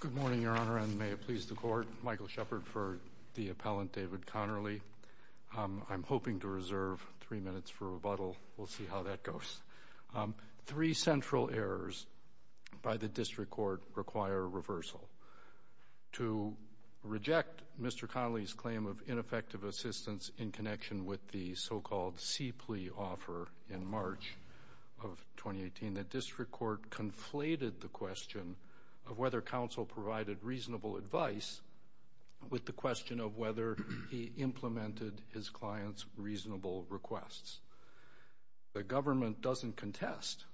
Good morning, Your Honor, and may it please the Court, Michael Shepard for the appellant David Conerly. I'm hoping to reserve three minutes for rebuttal. We'll see how that goes. Three central errors by the District Court require reversal. To reject Mr. Conerly's claim of ineffective assistance in connection with the so-called C.P.L.E. offer in March of 2018, the District Court conflated the question of whether counsel provided reasonable advice with the question of whether he implemented his client's reasonable requests. The government doesn't contest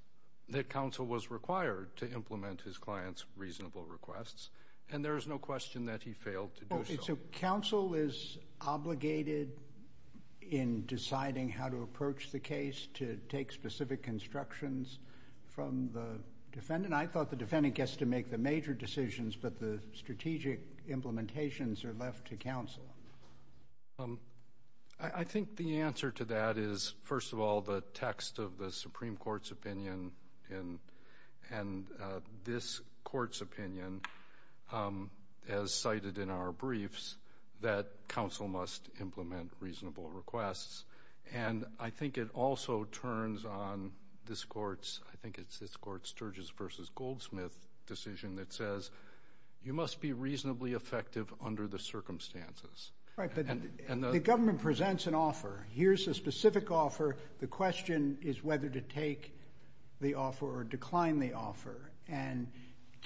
that counsel was required to implement his client's reasonable requests, and there is no question that he failed to do so. So counsel is obligated in deciding how to approach the case to take specific instructions from the defendant? I thought the defendant gets to make the major decisions, but the strategic implementations are left to counsel. I think the answer to that is, first of all, the text of the Supreme Court's opinion and this Court's opinion, as cited in our briefs, that counsel must implement reasonable requests. And I think it also turns on this Court's, I think it's this Court's Sturges v. Goldsmith decision that says, you must be reasonably effective under the circumstances. Right, but the government presents an offer. Here's a specific offer. The question is whether to take the offer or decline the offer, and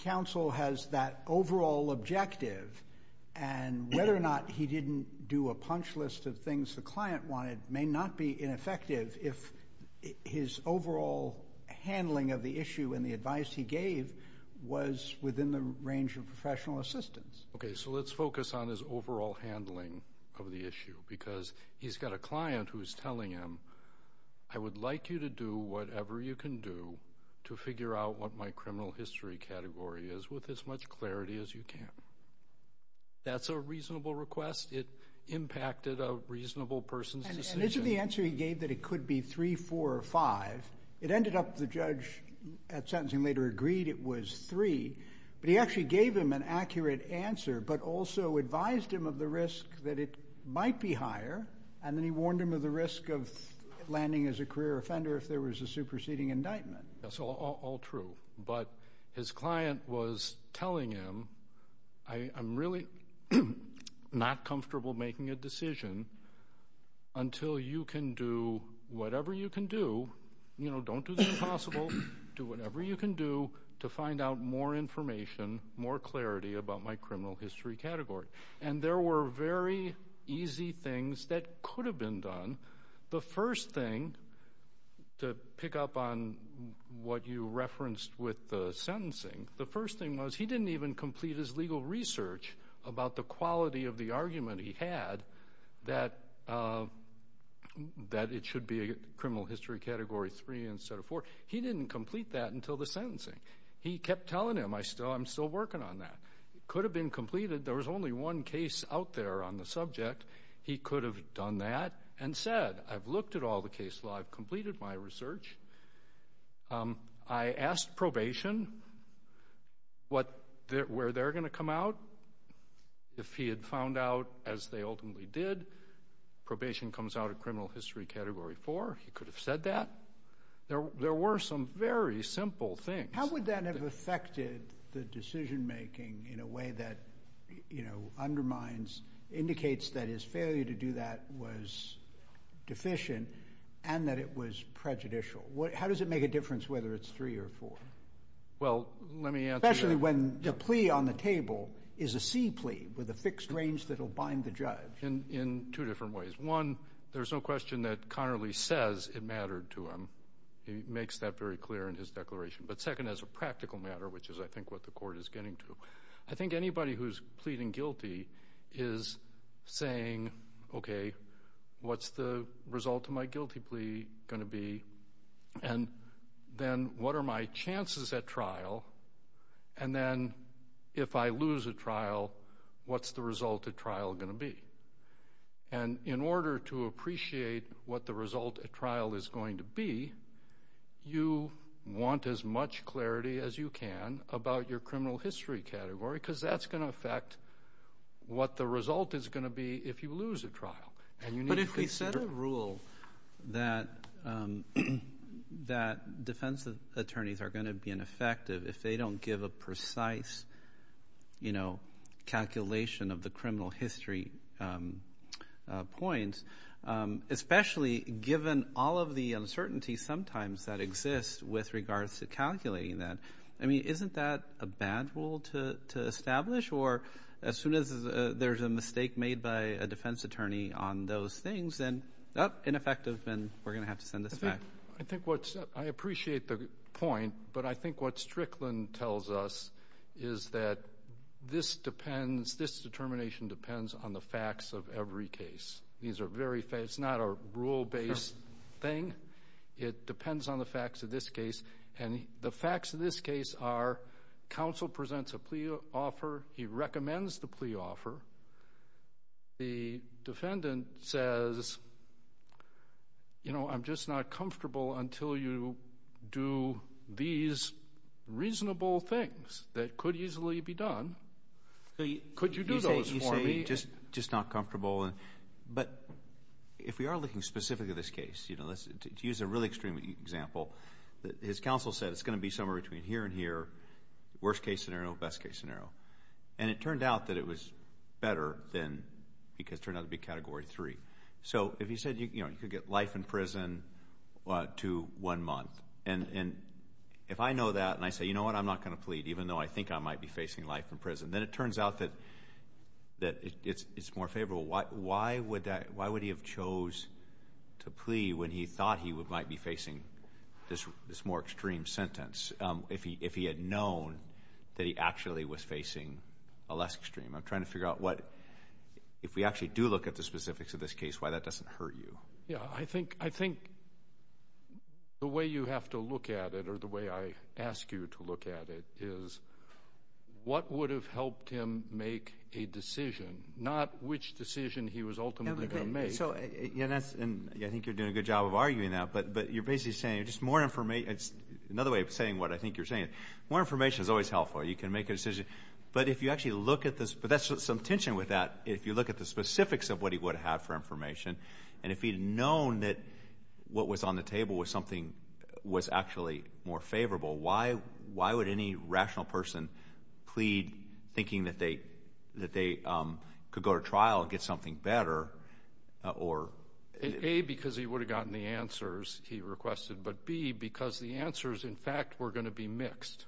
counsel has that overall objective, and whether or not he didn't do a punch list of things the client wanted may not be ineffective if his overall handling of the issue and the advice he gave was within the range of professional assistance. Okay, so let's focus on his overall handling of the issue, because he's got a client who's telling him, I would like you to do whatever you can do to figure out what my criminal history category is with as much clarity as you can. That's a reasonable request. It impacted a reasonable person's decision. And isn't the answer he gave that it could be 3, 4, or 5? It ended up the judge at sentencing later agreed it was 3, but he actually gave him an accurate answer, but also advised him of the risk that it might be higher, and then warned him of the risk of landing as a career offender if there was a superseding indictment. That's all true, but his client was telling him, I'm really not comfortable making a decision until you can do whatever you can do, you know, don't do the impossible, do whatever you can do to find out more information, more clarity about my criminal history category. And there were very easy things that could have been done. The first thing, to pick up on what you referenced with the sentencing, the first thing was he didn't even complete his legal research about the quality of the argument he had that it should be a criminal history category 3 instead of 4. He didn't complete that until the sentencing. He kept telling him, I'm still working on that. It could have been completed. There was only one case out there on the subject. He could have done that and said, I've looked at all the case law, I've completed my research. I asked probation where they're going to come out. If he had found out, as they ultimately did, probation comes out of criminal history category 4, he could have said that. There were some very simple things. How would that have affected the decision-making in a way that, you know, undermines, indicates that his failure to do that was deficient and that it was prejudicial? How does it make a difference whether it's 3 or 4? Well, let me answer. Especially when the plea on the table is a C plea with a fixed range that will bind the In two different ways. One, there's no question that Connerly says it mattered to him. He makes that very clear in his declaration. But second, as a practical matter, which is, I think, what the court is getting to, I think anybody who's pleading guilty is saying, okay, what's the result of my guilty plea going to be? And then, what are my chances at trial? And then, if I lose a trial, what's the result of trial going to be? And in order to appreciate what the result of trial is going to be, you want as much clarity as you can about your criminal history category because that's going to affect what the result is going to be if you lose a trial. But if he set a rule that defense attorneys are going to be ineffective if they don't give a precise calculation of the criminal history points, especially given all of the uncertainty sometimes that exists with regards to calculating that, I mean, isn't that a bad rule to establish? Or as soon as there's a mistake made by a defense attorney on those things, then, oh, ineffective and we're going to have to send this back. I think what's, I appreciate the point, but I think what Strickland tells us is that this depends, this determination depends on the facts of every case. These are very, it's not a rule-based thing. It depends on the facts of this case. And the facts of this case are counsel presents a plea offer, he recommends the plea offer, the defendant says, you know, I'm just not comfortable until you do these reasonable things that could easily be done. Could you do those for me? You say, you say, just not comfortable. But if we are looking specifically at this case, you know, to use a really extreme example, his counsel said it's going to be somewhere between here and here, worst case scenario, best case scenario. And it turned out that it was better than, because it turned out to be Category 3. So if he said, you know, you could get life in prison to one month, and if I know that and I say, you know what, I'm not going to plead even though I think I might be facing life in prison, then it turns out that it's more favorable. Why would that, why would he have chose to plea when he thought he might be facing this more extreme sentence if he had known that he actually was facing a less extreme? I'm trying to figure out what, if we actually do look at the specifics of this case, why that doesn't hurt you. Yeah. I think, I think the way you have to look at it or the way I ask you to look at it is what would have helped him make a decision, not which decision he was ultimately going to make. So, and I think you're doing a good job of arguing that, but you're basically saying just more information, it's another way of saying what I think you're saying, more information is always helpful. You can make a decision. But if you actually look at this, but that's some tension with that, if you look at the specifics of what he would have had for information, and if he had known that what was on the table was something, was actually more favorable, why, why would any rational person plead thinking that they, that they could go to trial and get something better, or? A, because he would have gotten the answers he requested, but B, because the answers, in fact, were going to be mixed.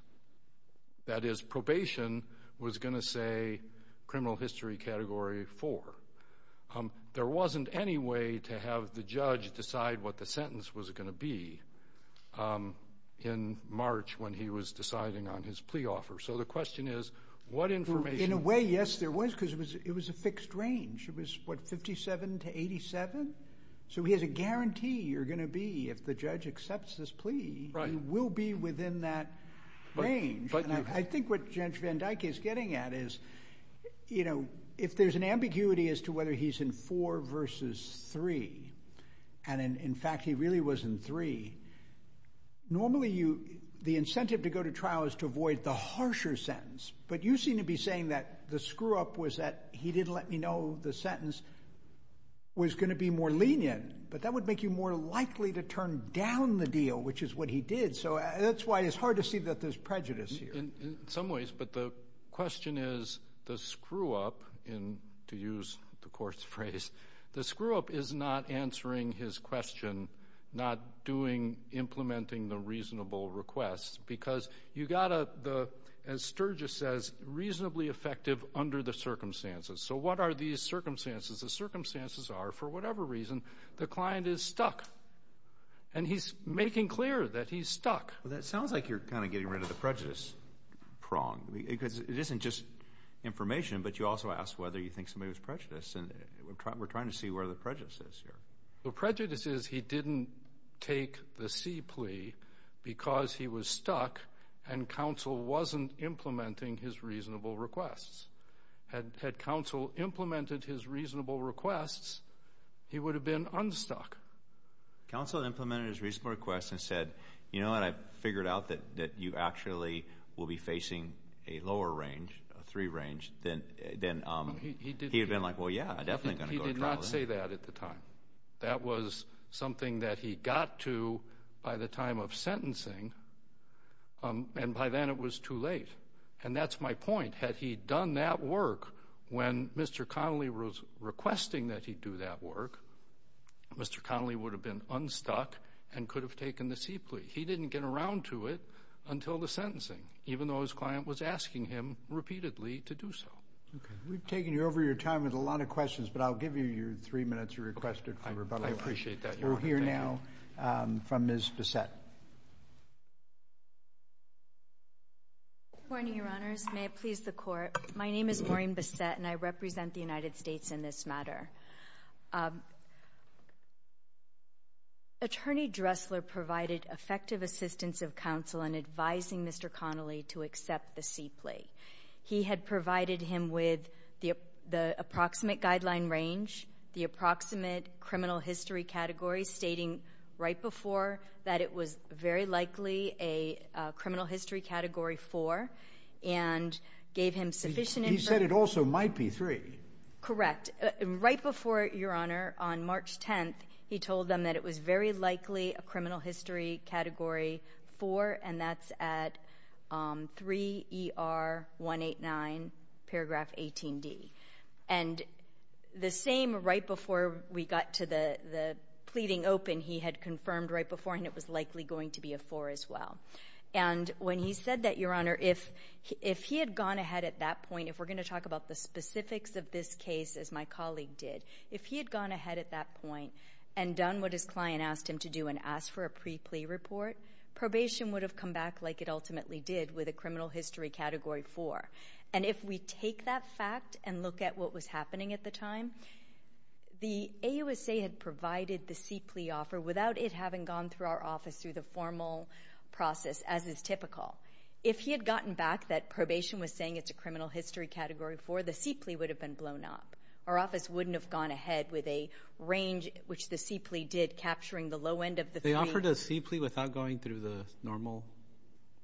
That is, probation was going to say criminal history category four. There wasn't any way to have the judge decide what the sentence was going to be in March when he was deciding on his plea offer. So the question is, what information? In a way, yes, there was, because it was, it was a fixed range. It was, what, 57 to 87? So he has a guarantee you're going to be, if the judge accepts this plea, you will be within that range. I think what Judge Van Dyke is getting at is, you know, if there's an ambiguity as to whether he's in four versus three, and in fact he really was in three, normally you, the incentive to go to trial is to avoid the harsher sentence. But you seem to be saying that the screw-up was that he didn't let me know the sentence was going to be more lenient, but that would make you more likely to turn down the deal, which is what he did. So that's why it's hard to see that there's prejudice here. In some ways, but the question is, the screw-up, to use the court's phrase, the screw-up is not answering his question, not doing, implementing the reasonable request, because you've got the, as Sturgis says, reasonably effective under the circumstances. So what are these circumstances? The circumstances are, for whatever reason, the client is stuck, and he's making clear that he's stuck. Well, that sounds like you're kind of getting rid of the prejudice prong, because it isn't just information, but you also ask whether you think somebody was prejudiced, and we're trying to see where the prejudice is here. The prejudice is he didn't take the C plea because he was stuck, and counsel wasn't implementing his reasonable requests. Had counsel implemented his reasonable requests, he would have been unstuck. Counsel implemented his reasonable requests and said, you know what, I've figured out that you actually will be facing a lower range, a three range, then he'd have been like, well, yeah, I'm definitely going to go to trial. He did not say that at the time. That was something that he got to by the time of sentencing, and by then it was too late. And that's my point. Had he done that work when Mr. Connolly was requesting that he do that work, Mr. Connolly would have been unstuck and could have taken the C plea. He didn't get around to it until the sentencing, even though his client was asking him repeatedly to do so. Okay. We've taken over your time with a lot of questions, but I'll give you your three minutes requested for rebuttal. I appreciate that, Your Honor. Thank you. We'll hear now from Ms. Bassett. Good morning, Your Honors. May it please the Court. My name is Maureen Bassett, and I represent the United States in this matter. Attorney Dressler provided effective assistance of counsel in advising Mr. Connolly to accept the C plea. He had provided him with the approximate guideline range, the approximate criminal history category stating right before that it was very likely a criminal history category 4, and gave him sufficient information. He said it also might be 3. Correct. Right before, Your Honor, on March 10th, he told them that it was very likely a criminal history category 4, and that's at 3ER189 paragraph 18D. And the same right before we got to the pleading open, he had confirmed right before, and it was likely going to be a 4 as well. And when he said that, Your Honor, if he had gone ahead at that point, if we're going to talk about the specifics of this case, as my colleague did, if he had gone ahead at that point and done what his client asked him to do and asked for a pre-plea report, probation would have come back like it ultimately did with a criminal history category 4. And if we take that fact and look at what was happening at the time, the AUSA had provided the C plea offer without it having gone through our office through the formal process as is typical. If he had gotten back that probation was saying it's a criminal history category 4, the C plea would have been blown up. Our office wouldn't have gone ahead with a range, which the C plea did, capturing the low end of the 3. They offered a C plea without going through the normal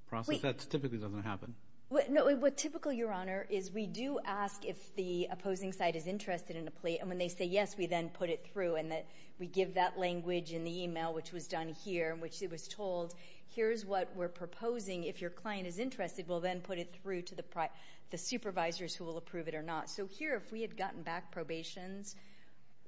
process? That typically doesn't happen. What typical, Your Honor, is we do ask if the opposing side is interested in a plea, and when they say yes, we then put it through. And we give that language in the email, which was done here, in which it was told, here's what we're proposing. If your client is interested, we'll then put it through to the supervisors who will approve it or not. So here, if we had gotten back probation's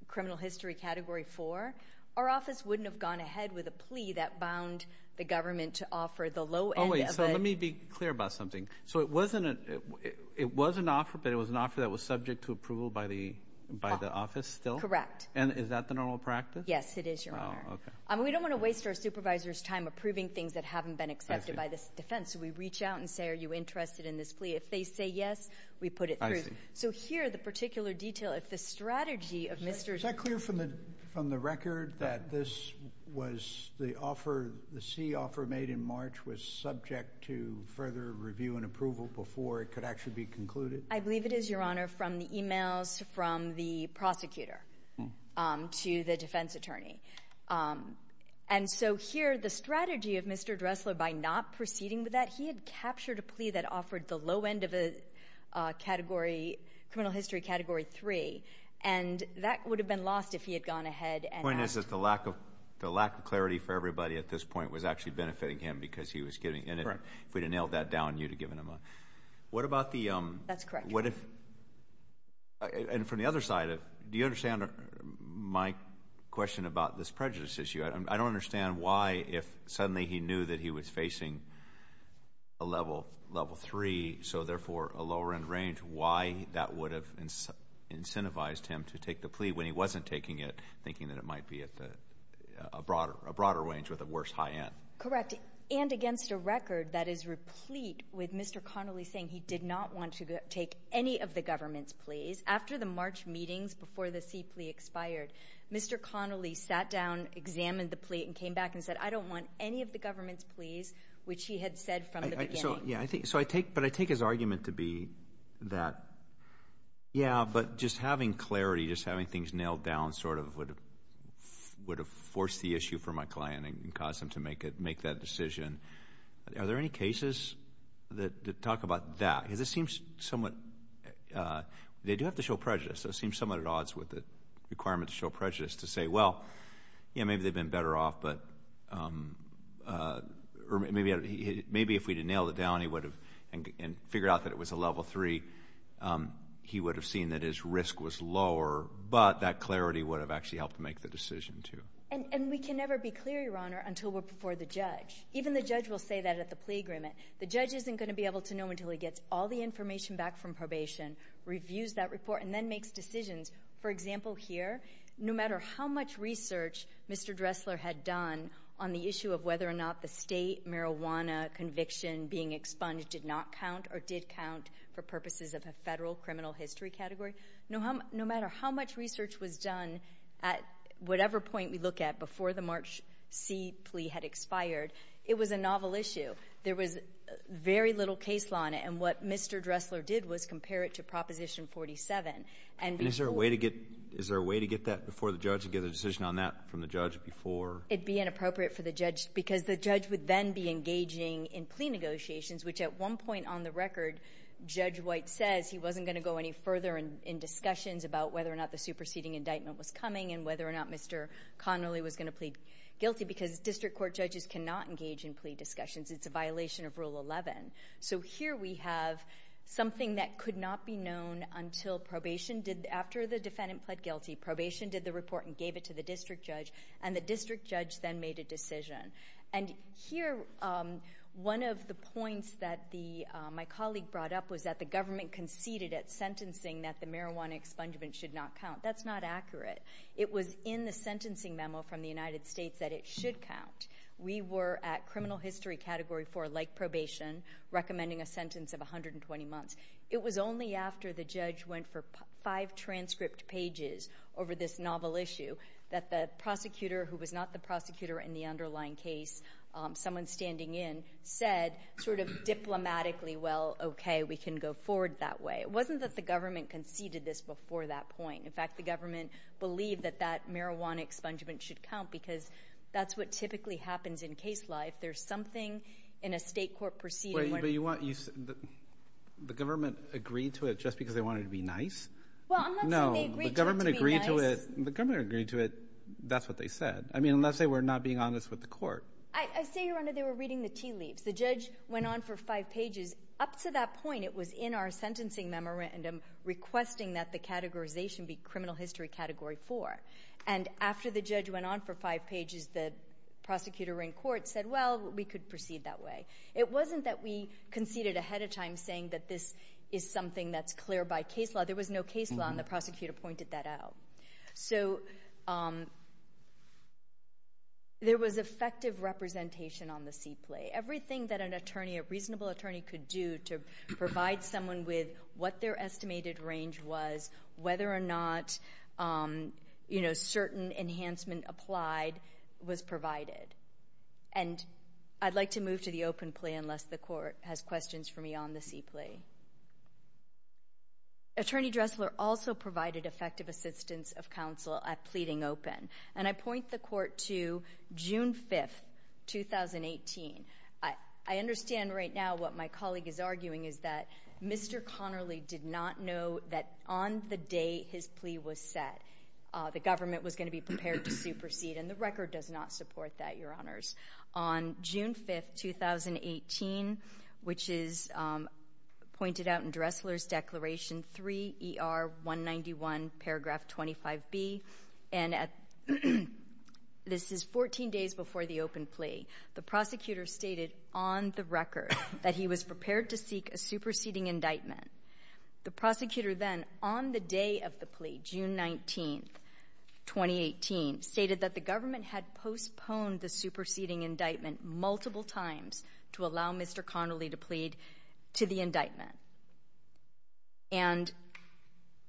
criminal history category 4, our office wouldn't have gone ahead with a plea that bound the government to offer the low end of a... Oh, wait. So let me be clear about something. So it wasn't an offer, but it was an offer that was subject to approval by the office still? Correct. And is that the normal practice? Yes, it is, Your Honor. Oh, okay. We don't want to waste our supervisors' time approving things that haven't been accepted by this defense. So we reach out and say, are you interested in this plea? If they say yes, we put it through. So here, the particular detail, if the strategy of Mr. Dressler... Is that clear from the record that this was the offer, the C offer made in March was subject to further review and approval before it could actually be concluded? I believe it is, Your Honor, from the emails from the prosecutor to the defense attorney. And so here, the strategy of Mr. Dressler, by not proceeding with that, he had captured a plea that offered the low end of a category, criminal history Category 3, and that would have been lost if he had gone ahead and asked... The point is that the lack of clarity for everybody at this point was actually benefiting him because he was giving... Correct. If we'd have nailed that down, you'd have given him a... What about the... That's correct. And from the other side, do you understand my question about this prejudice issue? I don't understand why, if suddenly he knew that he was facing a level 3, so therefore a lower end range, why that would have incentivized him to take the plea when he wasn't taking it, thinking that it might be at a broader range with a worse high end? Correct. And against a record that is replete with Mr. Connolly saying he did not want to take any of the government's pleas. After the March meetings, before the C plea expired, Mr. Connolly sat down, examined the plea and came back and said, I don't want any of the government's pleas, which he had said from the beginning. So, yeah, I think... So I take... But I take his argument to be that, yeah, but just having clarity, just having things nailed down sort of would have forced the issue for my client and caused him to make that decision. And are there any cases that talk about that? Because it seems somewhat... They do have to show prejudice, so it seems somewhat at odds with the requirement to show prejudice to say, well, yeah, maybe they've been better off, but... Maybe if we'd have nailed it down and figured out that it was a level 3, he would have seen that his risk was lower, but that clarity would have actually helped make the decision too. And we can never be clear, Your Honor, until we're before the judge. Even the judge will say that at the plea agreement. The judge isn't going to be able to know until he gets all the information back from probation, reviews that report, and then makes decisions. For example, here, no matter how much research Mr. Dressler had done on the issue of whether or not the state marijuana conviction being expunged did not count or did count for purposes of a federal criminal history category, no matter how much research was done at whatever point we look at before the March C plea had expired, it was a novel issue. There was very little case law on it. And what Mr. Dressler did was compare it to Proposition 47. And before... And is there a way to get that before the judge, to get a decision on that from the judge before... It'd be inappropriate for the judge, because the judge would then be engaging in plea negotiations, which at one point on the record, Judge White says he wasn't going to go any further in discussions about whether or not the superseding indictment was coming and whether or not Mr. Connolly was going to plead guilty, because district court judges cannot engage in plea discussions. It's a violation of Rule 11. So here we have something that could not be known until probation did... After the defendant pled guilty, probation did the report and gave it to the district judge, and the district judge then made a decision. And here, one of the points that my colleague brought up was that the government conceded at sentencing that the marijuana expungement should not count. That's not accurate. It was in the sentencing memo from the United States that it should count. We were at criminal history category four, like probation, recommending a sentence of 120 months. It was only after the judge went for five transcript pages over this novel issue that the prosecutor, who was not the prosecutor in the underlying case, someone standing in, said sort of diplomatically, well, okay, we can go forward that way. It wasn't that the government conceded this before that point. In fact, the government believed that that marijuana expungement should count because that's what typically happens in case life. There's something in a state court proceeding where... Wait, but you want... The government agreed to it just because they wanted to be nice? Well, I'm not saying they agreed to it to be nice. No. The government agreed to it. The government agreed to it. That's what they said. I mean, unless they were not being honest with the court. I say, Your Honor, they were reading the tea leaves. The judge went on for five pages. Up to that point, it was in our sentencing memorandum requesting that the categorization be criminal history category four. And after the judge went on for five pages, the prosecutor in court said, well, we could proceed that way. It wasn't that we conceded ahead of time saying that this is something that's clear by case law. There was no case law, and the prosecutor pointed that out. So there was effective representation on the seat plate. Everything that a reasonable attorney could do to provide someone with what their estimated range was, whether or not certain enhancement applied, was provided. And I'd like to move to the open plea unless the court has questions for me on the seat plea. Attorney Dressler also provided effective assistance of counsel at pleading open. And I point the court to June 5th, 2018. I understand right now what my colleague is arguing is that Mr. Connerly did not know that on the day his plea was set, the government was going to be prepared to supersede, and the record does not support that, Your Honors. On June 5th, 2018, which is pointed out in Dressler's Declaration 3 ER 191 paragraph 25B, and this is 14 days before the open plea, the prosecutor stated on the record that he was prepared to seek a superseding indictment. The prosecutor then, on the day of the plea, June 19th, 2018, stated that the government had postponed the superseding indictment multiple times to allow Mr. Connerly to plead to the indictment. And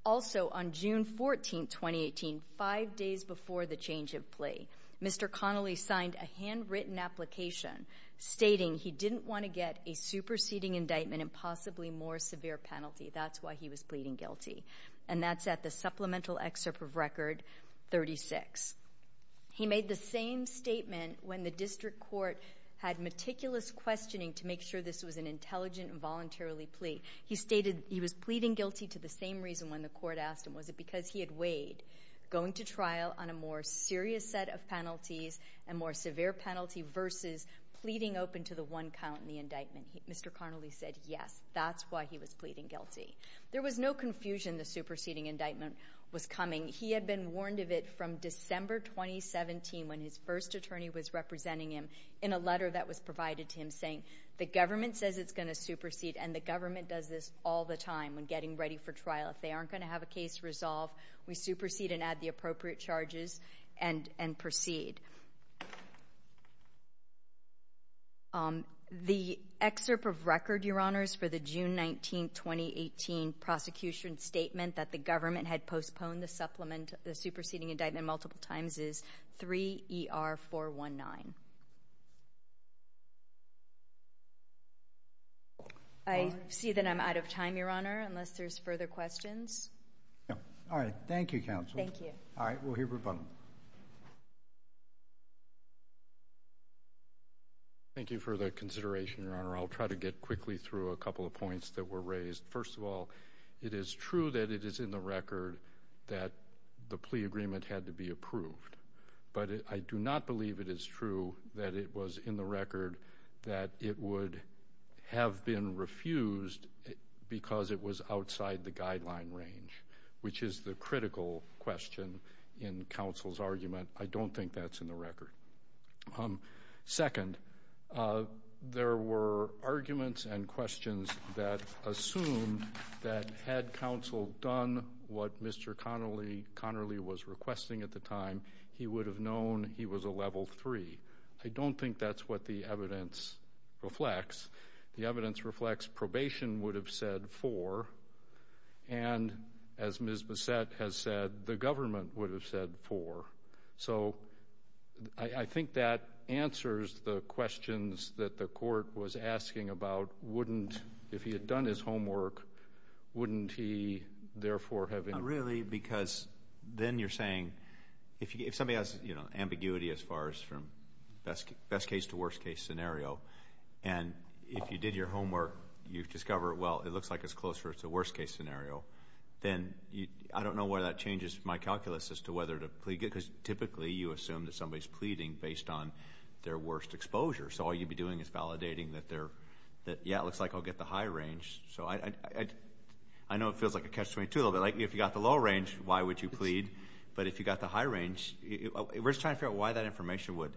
also on June 14th, 2018, five days before the change of plea, Mr. Connerly signed a handwritten application stating he didn't want to get a superseding indictment and possibly more severe penalty. That's why he was pleading guilty. And that's at the supplemental excerpt of record 36. He made the same statement when the district court had meticulous questioning to make sure this was an intelligent and voluntarily plea. He stated he was pleading guilty to the same reason when the court asked him, was it because he had weighed going to trial on a more serious set of penalties and more severe penalty versus pleading open to the one count in the indictment. Mr. Connerly said yes, that's why he was pleading guilty. There was no confusion the superseding indictment was coming. He had been warned of it from December 2017 when his first attorney was representing him in a letter that was provided to him saying the government says it's going to supersede and the government does this all the time when getting ready for trial. If they aren't going to have a case resolved, we supersede and add the appropriate charges and proceed. The excerpt of record, Your Honors, for the June 19th, 2018, prosecution statement that the government had postponed the supplement, the superseding indictment multiple times is 3ER419. I see that I'm out of time, Your Honor, unless there's further questions. All right. Thank you, Counsel. Thank you. All right. We'll hear from him. Thank you for the consideration, Your Honor. I'll try to get quickly through a couple of points that were raised. First of all, it is true that it is in the record that the plea agreement had to be approved, but I do not believe it is true that it was in the record that it would have been refused because it was outside the guideline range, which is the critical question in Counsel's argument. I don't think that's in the record. Second, there were arguments and questions that assumed that had Counsel done what Mr. Connerly was requesting at the time, he would have known he was a level three. I don't think that's what the evidence reflects. The evidence reflects probation would have said four, and as Ms. Bassett has said, the government would have said four. So I think that answers the questions that the court was asking about wouldn't, if he had done his homework, wouldn't he therefore have been... Not really because then you're saying if somebody has ambiguity as far as from best case to worst case scenario, and if you did your homework, you've discovered, well, it looks like it's closer to worst case scenario, then I don't know whether that changes my calculus as to whether to plead, because typically you assume that somebody's pleading based on their worst exposure. So all you'd be doing is validating that, yeah, it looks like I'll get the high range. So I know it feels like a catch-22, but if you got the low range, why would you plead? But if you got the high range, we're just trying to figure out why that information would...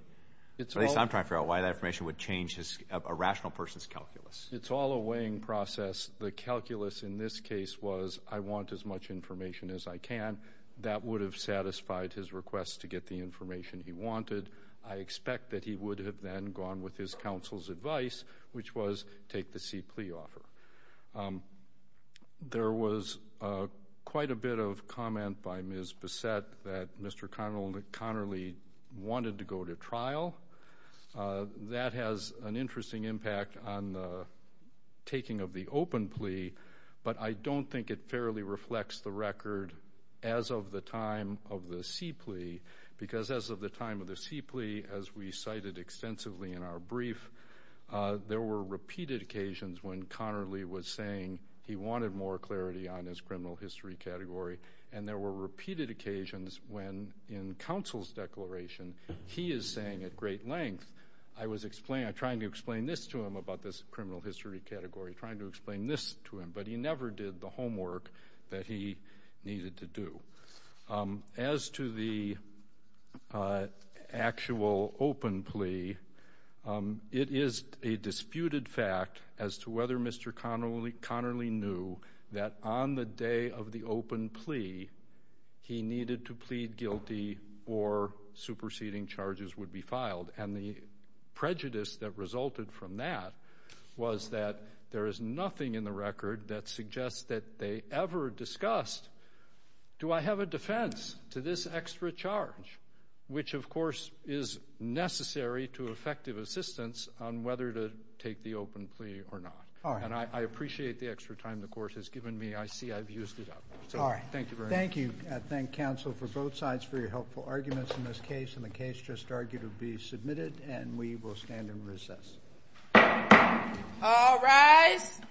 At least I'm trying to figure out why that information would change a rational person's calculus. It's all a weighing process. The calculus in this case was I want as much information as I can. That would have satisfied his request to get the information he wanted. I expect that he would have then gone with his counsel's advice, which was take the C plea offer. There was quite a bit of comment by Ms. Bassett that Mr. Connerly wanted to go to trial. That has an interesting impact on the taking of the open plea, but I don't think it fairly reflects the record as of the time of the C plea, because as of the time of the C plea, as we cited extensively in our brief, there were repeated occasions when Connerly was saying he wanted more clarity on his criminal history category, and there were repeated occasions when in counsel's declaration, he is saying at great length, I was trying to explain this to him about this criminal history category, trying to explain this to him, but he never did the homework that he needed to do. As to the actual open plea, it is a disputed fact as to whether Mr. Connerly knew that on the day of the open plea, he needed to plead guilty or superseding charges would be filed. And the prejudice that resulted from that was that there is nothing in the record that suggests that they ever discussed, do I have a defense to this extra charge, which of course is necessary to effective assistance on whether to take the open plea or not. And I appreciate the extra time the Court has given me. I see I've used it up. So, thank you very much. Thank you. I thank counsel for both sides for your helpful arguments in this case, and the case just argued will be submitted, and we will stand in recess.